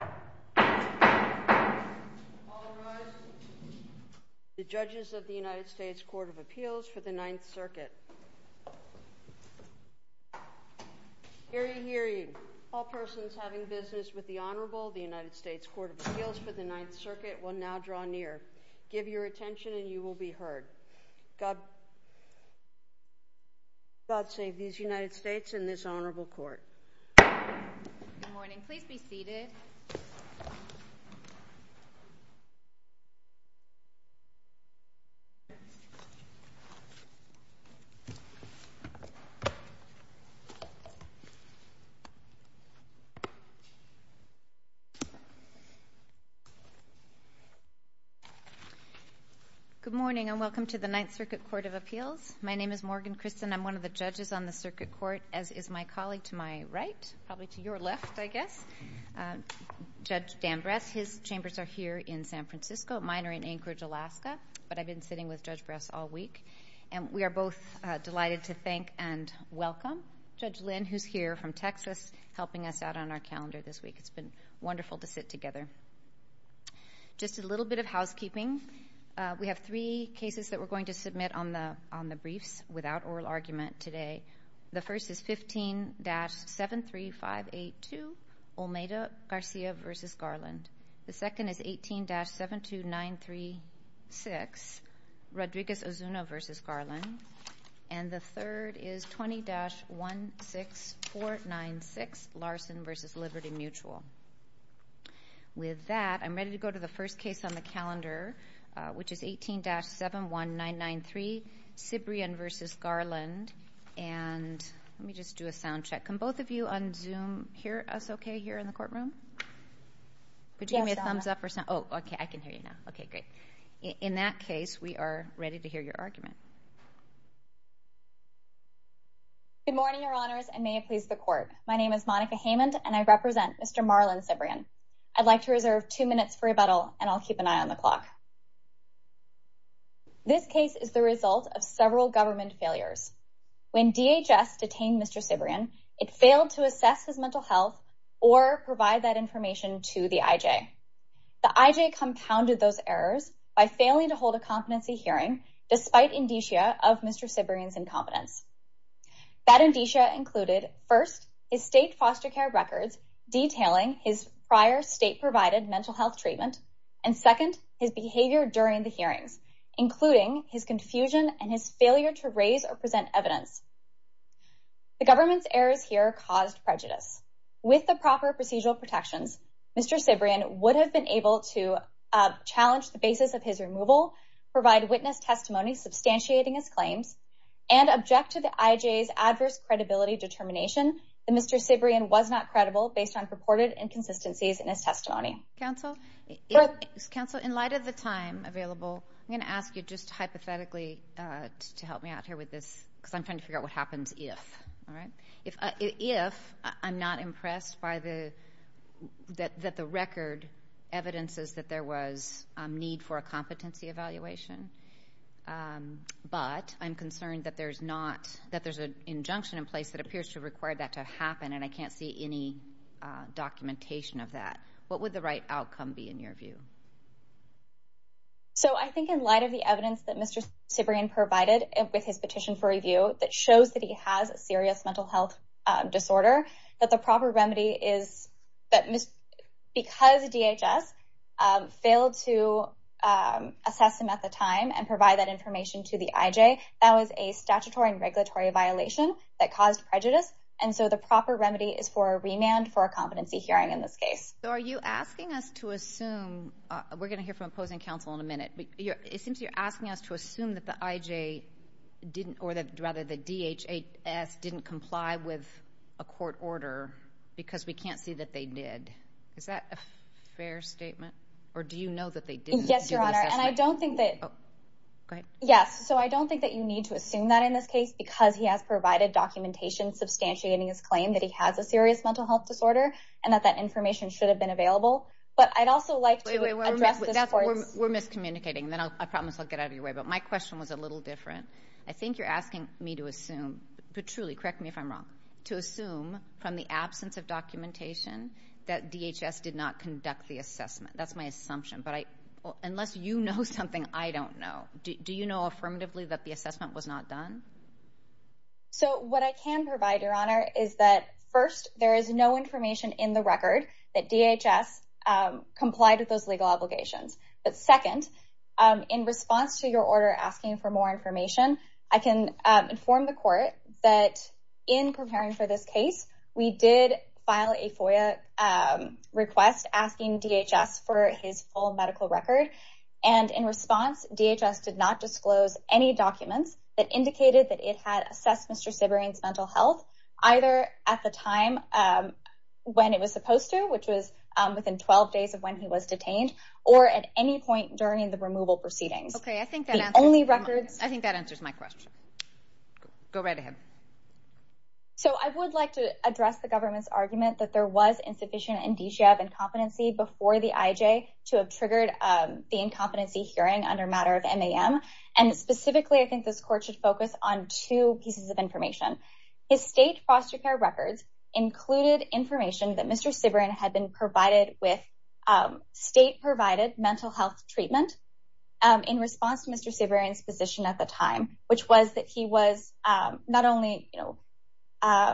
The Judges of the United States Court of Appeals for the Ninth Circuit. Hear ye, hear ye. All persons having business with the Honorable, the United States Court of Appeals for the Ninth Circuit, will now draw near. Give your attention and you will be heard. God save these United States and this Honorable Court. Good morning. Please be seated. Good morning and welcome to the Ninth Circuit Court of Appeals. My name is Morgan Christen. I'm one of the judges on the circuit court, as is my colleague to my right, probably to your left, I guess, Judge Dan Bress. His chambers are here in San Francisco. Mine are in Anchorage, Alaska, but I've been sitting with Judge Bress all week. We are both delighted to thank and welcome Judge Lynn, who's here from Texas, helping us out on our calendar this week. It's been wonderful to sit together. Just a little bit of housekeeping. We have three cases that we're going to submit on the briefs without oral argument today. The first is 15-73582, Olmedo Garcia v. Garland. The second is 18-72936, Rodriguez-Ozuna v. Garland. And the third is 20-16496, Larson v. Liberty Mutual. With that, I'm ready to go to the first case on the calendar, which is Cibrian v. Garland. And let me just do a sound check. Can both of you on Zoom hear us okay here in the courtroom? Would you give me a thumbs up or sound? Oh, okay, I can hear you now. Okay, great. In that case, we are ready to hear your argument. Good morning, Your Honors, and may it please the Court. My name is Monica Hamond, and I represent Mr. Marlon Cibrian. I'd like to reserve two minutes for rebuttal, and I'll of several government failures. When DHS detained Mr. Cibrian, it failed to assess his mental health or provide that information to the IJ. The IJ compounded those errors by failing to hold a competency hearing despite indicia of Mr. Cibrian's incompetence. That indicia included, first, his state foster care records detailing his prior state-provided mental health treatment, and second, his behavior during the hearings, including his confusion and his failure to raise or present evidence. The government's errors here caused prejudice. With the proper procedural protections, Mr. Cibrian would have been able to challenge the basis of his removal, provide witness testimony substantiating his claims, and object to the IJ's adverse credibility determination that Mr. Cibrian was not credible based on Counsel, in light of the time available, I'm going to ask you just hypothetically to help me out here with this, because I'm trying to figure out what happens if. If I'm not impressed that the record evidences that there was need for a competency evaluation, but I'm concerned that there's an injunction in place that appears to require that to happen, and I can't see any documentation of that, what would the right outcome be in your view? So, I think in light of the evidence that Mr. Cibrian provided with his petition for review that shows that he has a serious mental health disorder, that the proper remedy is that because DHS failed to assess him at the time and provide that information to the IJ, that was a statutory and regulatory violation that caused prejudice, and so the proper remedy is for a remand for a competency hearing in this case. So are you asking us to assume, we're going to hear from opposing counsel in a minute, it seems you're asking us to assume that the IJ didn't, or that rather the DHS didn't comply with a court order because we can't see that they did. Is that a fair statement? Yes, so I don't think that you need to assume that in this case because he has provided documentation substantiating his claim that he has a serious mental health disorder and that that information should have been available, but I'd also like to address this court's... We're miscommunicating, then I promise I'll get out of your way, but my question was a little different. I think you're asking me to assume, but truly, correct me if I'm wrong, to assume from the absence of documentation that DHS did not conduct the assessment. That's my assumption, but unless you know something I don't know, do you know affirmatively that the assessment was not done? So what I can provide, Your Honor, is that first, there is no information in the record that DHS complied with those legal obligations, but second, in response to your order asking for more information, I can inform the court that in preparing for this case, we did file a FOIA request asking DHS for his full medical record, and in response, DHS did not disclose any documents that indicated that it had assessed Mr. Sibering's mental health, either at the time when it was supposed to, which was within 12 days of when he was detained, or at any point during the removal proceedings. Okay, I think that answers... The only records... I think that answers my question. Go right ahead. So I would like to address the government's argument that there was insufficient indicia of incompetency before the IJ to have triggered the incompetency hearing under matter of MAM, and specifically, I think this court should focus on two pieces of information. His state foster care records included information that Mr. Sibering had been provided with state provided mental health treatment in response to Mr. Sibering's position at the time, which was that he was not only...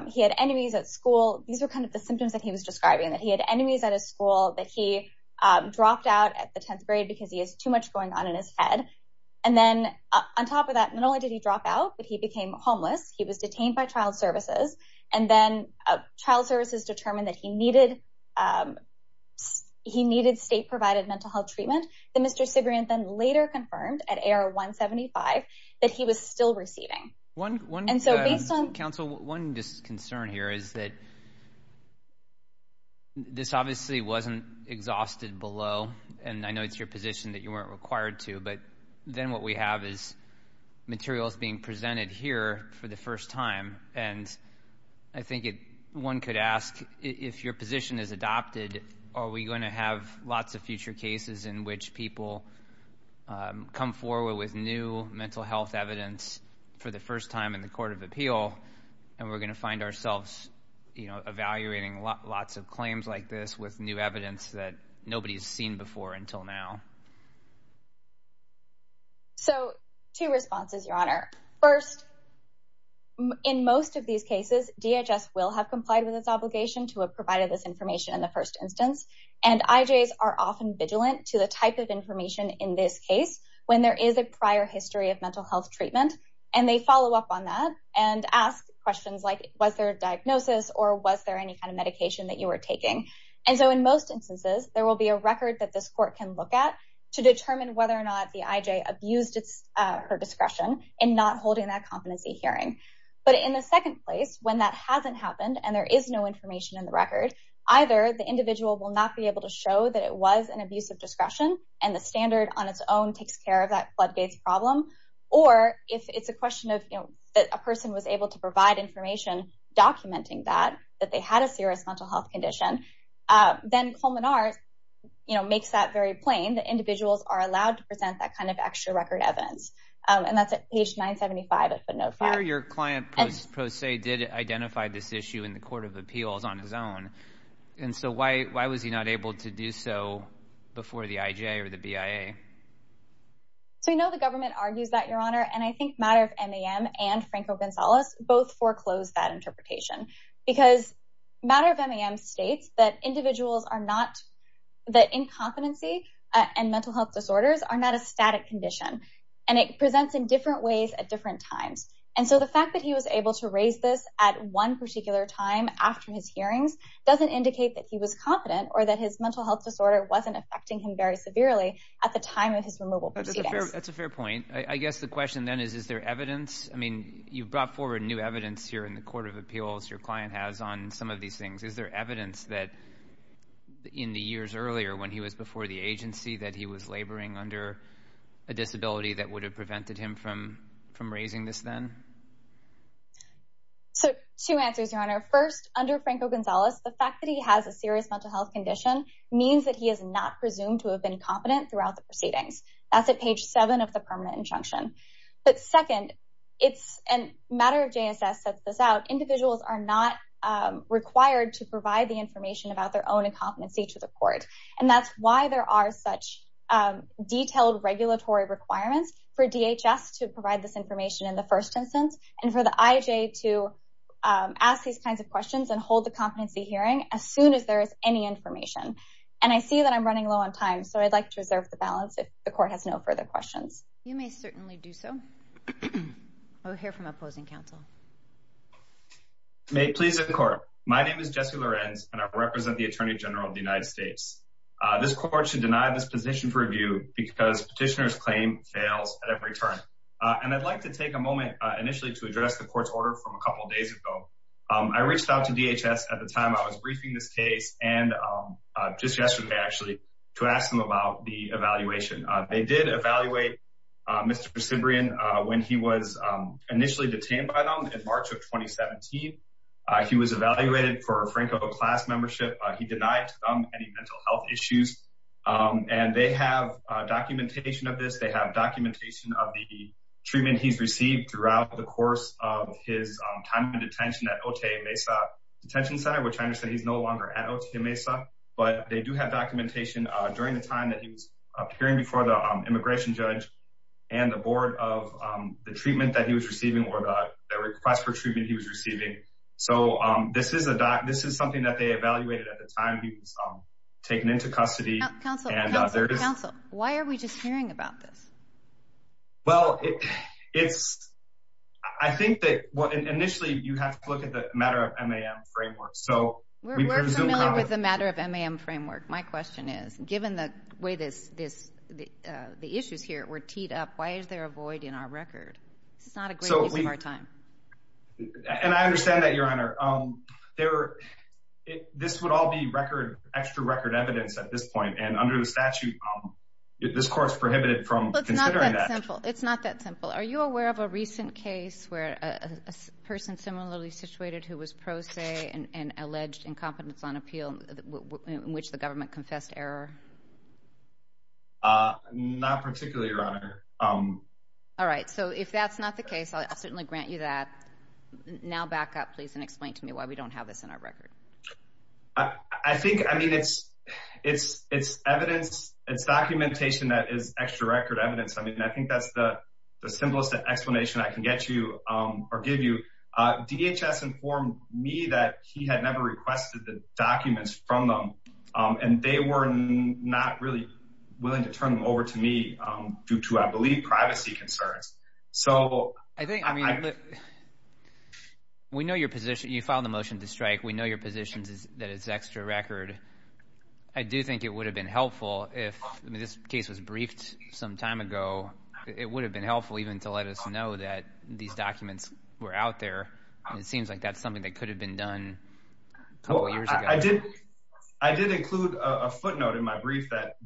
He had enemies at school. These were kind of the symptoms that he was describing, that he had enemies at his school, that he dropped out at the 10th grade because he has too much going on in his head, and then on top of that, not only did he drop out, but he became homeless. He was detained by child services, and then child services determined that he needed state provided mental health treatment. Mr. Sibering then later confirmed at AR-175 that he was still receiving. One concern here is that this obviously wasn't exhausted below, and I know it's your position that you weren't required to, but then what we have is materials being presented here for the first time, and I think one could ask, if your position is adopted, are we going to have lots of future cases in which people come forward with new mental health evidence for the first time in the Court of Appeal, and we're going to find ourselves evaluating lots of claims like this with new evidence that nobody's seen before until now? So, two responses, Your Honor. First, in most of these cases, DHS will have complied with its obligation to have provided this information in the first instance, and IJs are often vigilant to the type of information in this case when there is a prior history of mental health treatment, and they follow up on that and ask questions like, was there a diagnosis, or was there any kind of medication that you were taking? And so, in most instances, there will be a record that this court can look at to determine whether or not the IJ abused her discretion in not holding that competency hearing, but in the second place, when that hasn't happened, and there is no information in the record, either the individual will not be able to show that it was an abuse of discretion, and the standard on its own takes care of that floodgates problem, or if it's a question of a person was able to provide information documenting that, that they had a serious mental health condition, then Colman R. makes that very plain, that individuals are allowed to present that kind of extra record evidence, and that's at page 975 of footnote 5. Your Honor, your client, pro se, did identify this issue in the Court of Appeals on his own, and so why was he not able to do so before the IJ or the BIA? So we know the government argues that, Your Honor, and I think Matter of MAM and Franco Gonzalez both foreclosed that interpretation, because Matter of MAM states that individuals are not, that incompetency and mental health disorders are not a static condition, and it presents in different ways at different times, and so the fact that he was able to raise this at one particular time after his hearings doesn't indicate that he was competent or that his mental health disorder wasn't affecting him very severely at the time of his removal proceedings. That's a fair point. I guess the question then is, is there evidence? I mean, you brought forward new evidence here in the Court of Appeals, your client has, on some of these things. Is there evidence that in the years earlier, when he was before the agency, that he was prevented him from raising this then? So, two answers, Your Honor. First, under Franco Gonzalez, the fact that he has a serious mental health condition means that he is not presumed to have been competent throughout the proceedings. That's at page seven of the permanent injunction. But second, it's, and Matter of JSS sets this out, individuals are not required to provide the information about their own incompetency to the court, and that's why there are such detailed regulatory requirements for DHS to provide this information in the first instance, and for the IJ to ask these kinds of questions and hold the competency hearing as soon as there is any information. And I see that I'm running low on time, so I'd like to reserve the balance if the court has no further questions. You may certainly do so. We'll hear from opposing counsel. May it please the Court. My name is Jesse Lorenz, and I represent the Attorney General of the United States. This court should deny this position for review because petitioner's claim fails at every turn. And I'd like to take a moment initially to address the court's order from a couple days ago. I reached out to DHS at the time I was briefing this case, and just yesterday, actually, to ask them about the evaluation. They did evaluate Mr. Cibrian when he was initially detained by them in March of 2017. He was evaluated for Franco class membership. He denied to them any mental health issues. And they have documentation of this. They have documentation of the treatment he's received throughout the course of his time in detention at Otey Mesa Detention Center, which I understand he's no longer at Otey Mesa. But they do have documentation during the time that he was appearing before the immigration judge and the board of the treatment that he was receiving or the request for treatment he was receiving. So this is something that they evaluated at the time he was taken into custody. Counsel, counsel, counsel, why are we just hearing about this? Well, I think that initially you have to look at the matter of MAM framework. We're familiar with the matter of MAM framework. My question is, given the way the issues here were teed up, why is there a void in our record? This is not a great use of our time. And I understand that, Your Honor. This would all be record, extra record evidence at this point. And under the statute, this court's prohibited from considering that. It's not that simple. It's not that simple. Are you aware of a recent case where a person similarly situated who was pro se and alleged incompetence on appeal in which the government confessed error? Not particularly, Your Honor. All right. So if that's not the case, I'll certainly grant you that. Now back up, please, and explain to me why we don't have this in our record. I think, I mean, it's evidence, it's documentation that is extra record evidence. I mean, I think that's the simplest explanation I can get you or give you. DHS informed me that he had never requested the documents from them. And they were not really willing to turn them over to me due to, I believe, privacy concerns. So I think, I mean, we know your position. You filed the motion to strike. We know your position is that it's extra record. I do think it would have been helpful if this case was briefed some time ago. It would have been helpful even to let us know that these documents were out there. It seems like that's something that could have been done. I did include a footnote in my brief that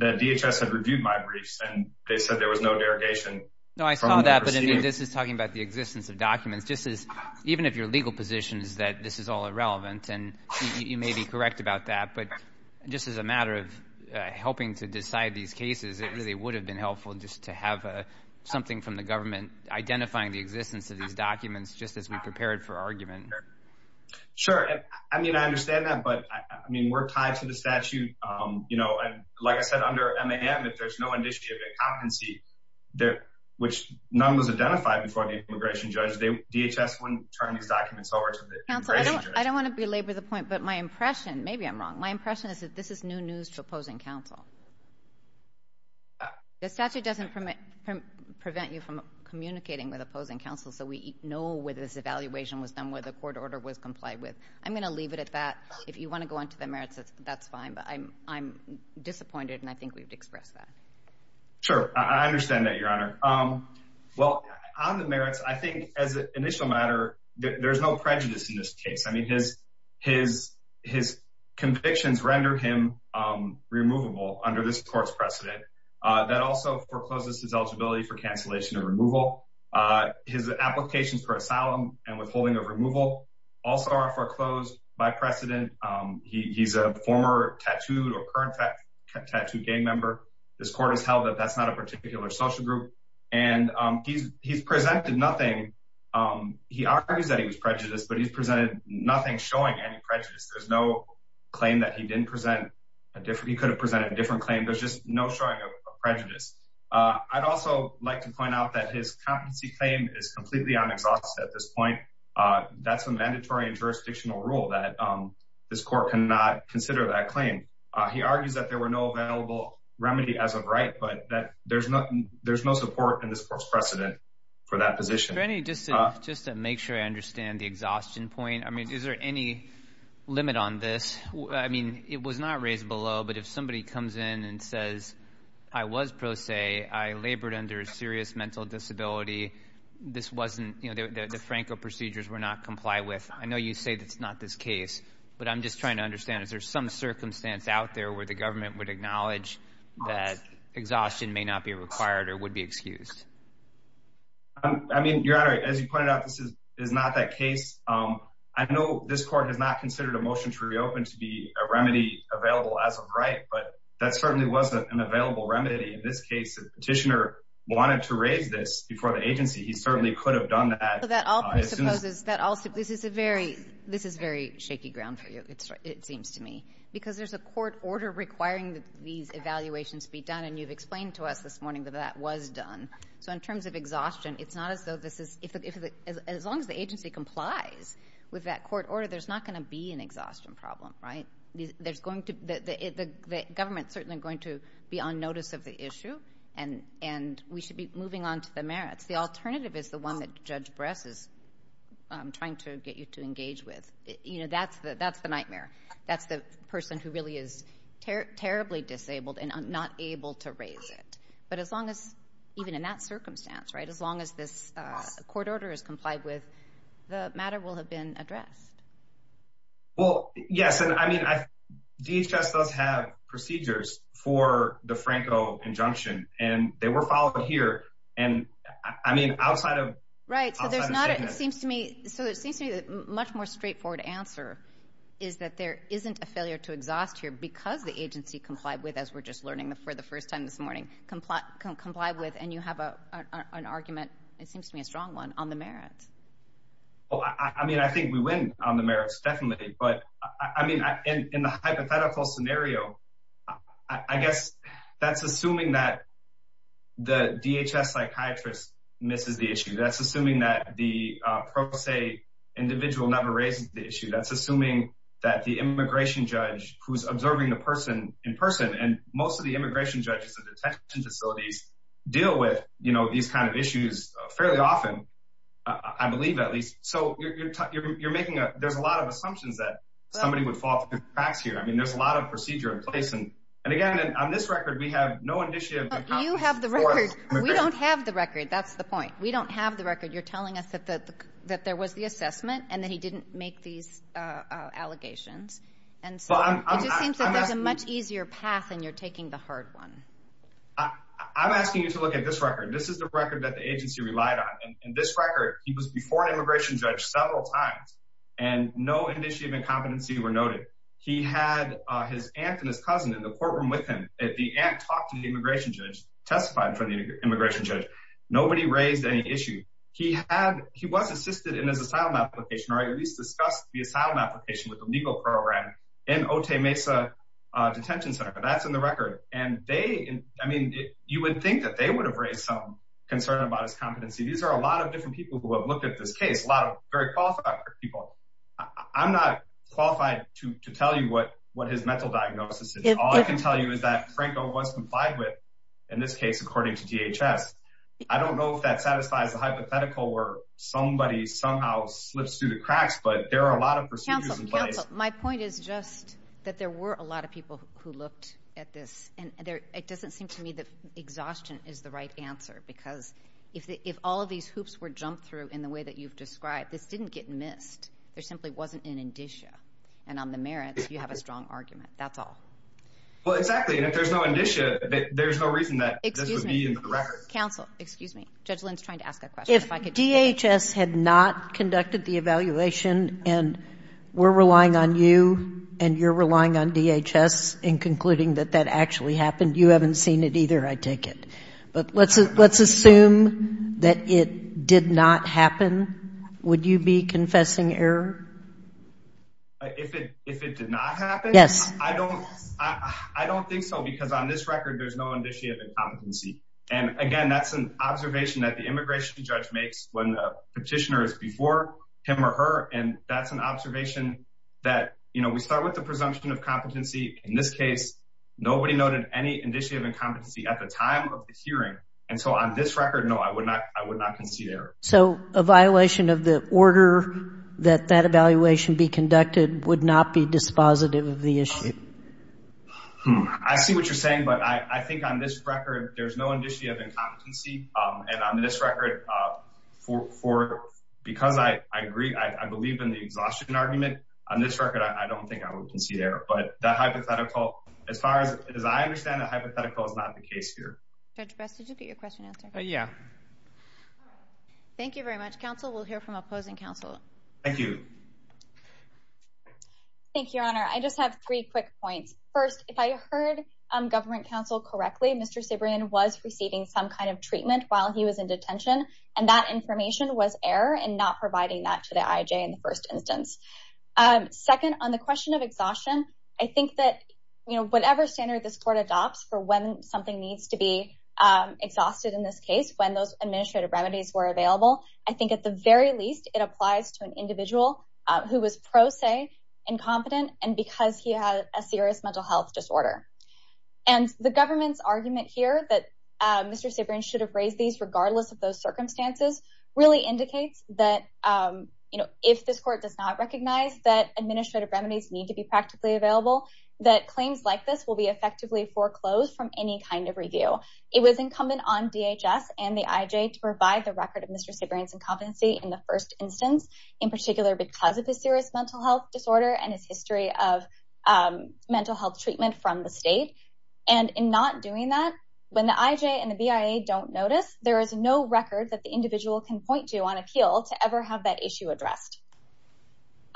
DHS had reviewed my briefs. And they said there was no derogation. No, I saw that. But I mean, this is talking about the existence of documents. Just as even if your legal position is that this is all irrelevant, and you may be correct about that. But just as a matter of helping to decide these cases, it really would have been helpful just to have something from the government identifying the existence of these documents just as we prepared for argument. Sure. I mean, I understand that. But, I mean, we're tied to the statute, you know. And like I said, under MAM, if there's no indicia of incompetency, which none was identified before the immigration judge, DHS wouldn't turn these documents over to the immigration judge. Counsel, I don't want to belabor the point. But my impression, maybe I'm wrong, my impression is that this is new news to opposing counsel. The statute doesn't prevent you from communicating with opposing counsel, so we know whether this evaluation was done where the court order was complied with. I'm going to leave it at that. If you want to go on to the merits, that's fine. But I'm disappointed, and I think we've expressed that. Sure. I understand that, Your Honor. Well, on the merits, I think, as an initial matter, there's no prejudice in this case. I mean, his convictions render him removable under this court's precedent. That also forecloses his eligibility for cancellation or removal. His applications for asylum and withholding of removal also are foreclosed by precedent. He's a former tattooed or current tattooed gang member. This court has held that that's not a particular social group. And he's presented nothing. He argues that he was prejudiced, but he's presented nothing showing any prejudice. There's no claim that he didn't present. He could have presented a different claim. There's just no showing of prejudice. I'd also like to point out that his competency claim is completely unexhausted at this point. That's a mandatory and jurisdictional rule that this court cannot consider that claim. He argues that there were no available remedy as of right, but that there's no support in this court's precedent for that position. Mr. Rennie, just to make sure I understand the exhaustion point, I mean, is there any limit on this? I mean, it was not raised below, but if somebody comes in and says, I was pro se, I labored under a serious mental disability, this wasn't, you know, the Franco procedures were not complied with. I know you say that's not this case, but I'm just trying to understand. Is there some circumstance out there where the government would acknowledge that exhaustion may not be required or would be excused? I mean, Your Honor, as you pointed out, this is not that case. I know this court has not considered a motion to reopen to be a remedy available as of right, but that certainly wasn't an available remedy in this case. The petitioner wanted to raise this before the agency. He certainly could have done that. This is a very shaky ground for you, it seems to me, because there's a court order requiring that these evaluations be done, and you've explained to us this morning that that was done. So in terms of exhaustion, it's not as though this is, as long as the agency complies with that court order, there's not going to be an exhaustion problem, right? The government is certainly going to be on notice of the issue, and we should be moving on to the merits. The alternative is the one that Judge Bress is trying to get you to engage with. You know, that's the nightmare. That's the person who really is terribly disabled and not able to raise it. But as long as, even in that circumstance, right, as long as this court order is complied with, the matter will have been addressed. Well, yes, and I mean, DHS does have procedures for the Franco injunction, and they were followed here, and I mean, outside of the statement. Right, so there's not a, it seems to me, so it seems to me a much more straightforward answer is that there isn't a failure to exhaust here because the agency complied with, as we're just learning for the first time this morning, complied with, and you have an argument, it seems to me a strong one, on the merits. Well, I mean, I think we win on the merits, definitely. But I mean, in the hypothetical scenario, I guess that's assuming that the DHS psychiatrist misses the issue. That's assuming that the pro se individual never raises the issue. That's assuming that the immigration judge who's observing the person in person, and most of the immigration judges at the detention facilities deal with, you know, these kind of issues fairly often, I believe at least. So you're making a, there's a lot of assumptions that somebody would fall through the cracks here. I mean, there's a lot of procedure in place, and again, on this record, we have no initiative. You have the record. We don't have the record. That's the point. We don't have the record. You're telling us that there was the assessment and that he didn't make these allegations. And so it just seems that there's a much easier path, and you're taking the hard one. I'm asking you to look at this record. This is the record that the agency relied on. In this record, he was before an immigration judge several times, and no indicia of incompetency were noted. He had his aunt and his cousin in the courtroom with him. The aunt talked to the immigration judge, testified in front of the immigration judge. Nobody raised any issue. He had, he was assisted in his asylum application, or at least discussed the asylum application with the legal program in Otay Mesa Detention Center, but that's in the record. And they, I mean, you would think that they would have raised some concern about his competency. These are a lot of different people who have looked at this case, a lot of very qualified people. I'm not qualified to tell you what his mental diagnosis is. All I can tell you is that Franco was complied with, in this case, according to DHS. I don't know if that satisfies the hypothetical where somebody somehow slips through the cracks, but there are a lot of procedures in place. Counsel, my point is just that there were a lot of people who looked at this, and it doesn't seem to me that exhaustion is the right answer, because if all of these hoops were jumped through in the way that you've described, this didn't get missed. There simply wasn't an indicia, and on the merits, you have a strong argument. That's all. Well, exactly, and if there's no indicia, there's no reason that this would be in the records. Excuse me. Counsel, excuse me. Judge Lynn's trying to ask a question. If DHS had not conducted the evaluation, and we're relying on you, and you're relying on DHS in concluding that that actually happened, you haven't seen it either, I take it. But let's assume that it did not happen. Would you be confessing error? If it did not happen? Yes. I don't think so, because on this record, there's no indicia of incompetency. And, again, that's an observation that the immigration judge makes when the petitioner is before him or her, and that's an observation that, you know, we start with the presumption of competency. In this case, nobody noted any indicia of incompetency at the time of the hearing. And so on this record, no, I would not concede error. So a violation of the order that that evaluation be conducted would not be dispositive of the issue? I see what you're saying, but I think on this record, there's no indicia of incompetency. And on this record, because I agree, I believe in the exhaustion argument. On this record, I don't think I would concede error. But the hypothetical, as far as I understand, the hypothetical is not the case here. Judge Best, did you get your question answered? Yeah. Thank you very much. Counsel will hear from opposing counsel. Thank you. Thank you, Your Honor. I just have three quick points. First, if I heard government counsel correctly, Mr. Cibrian was receiving some kind of treatment while he was in detention, and that information was error in not providing that to the IJ in the first instance. Second, on the question of exhaustion, I think that whatever standard this court adopts for when something needs to be exhausted in this case, when those administrative remedies were available, I think at the very least it applies to an individual who was pro se incompetent and because he had a serious mental health disorder. And the government's argument here that Mr. Cibrian should have raised these regardless of those circumstances really indicates that if this court does not recognize that administrative remedies need to be practically available, that claims like this will be effectively foreclosed from any kind of review. It was incumbent on DHS and the IJ to provide the record of Mr. Cibrian's incompetency in the first instance, in particular because of his serious mental health disorder and his history of mental health treatment from the state. And in not doing that, when the IJ and the BIA don't notice, there is no record that the individual can point to on appeal to ever have that issue addressed.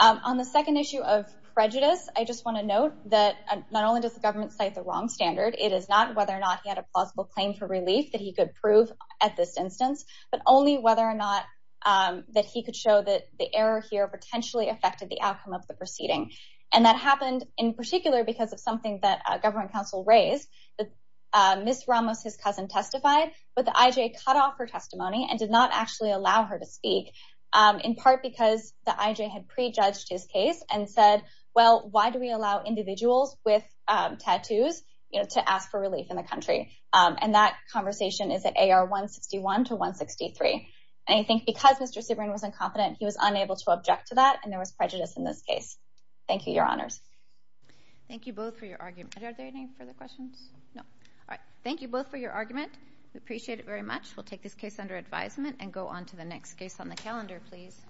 On the second issue of prejudice, I just want to note that not only does the government cite the wrong standard, it is not whether or not he had a plausible claim for relief that he could prove at this instance, but only whether or not that he could show that the error here potentially affected the outcome of the proceeding. And that happened in particular because of something that a government counsel raised, Ms. Ramos, his cousin, testified, but the IJ cut off her testimony and did not actually allow her to speak, in part because the IJ had prejudged his case and said, well, why do we allow individuals with tattoos to ask for relief in the country? And that conversation is at AR 161 to 163. And I think because Mr. Cibrian was incompetent, he was unable to object to that, and there was prejudice in this case. Thank you, Your Honors. Thank you both for your argument. Are there any further questions? No. All right. Thank you both for your argument. We appreciate it very much. We'll take this case under advisement and go on to the next case on the calendar, please.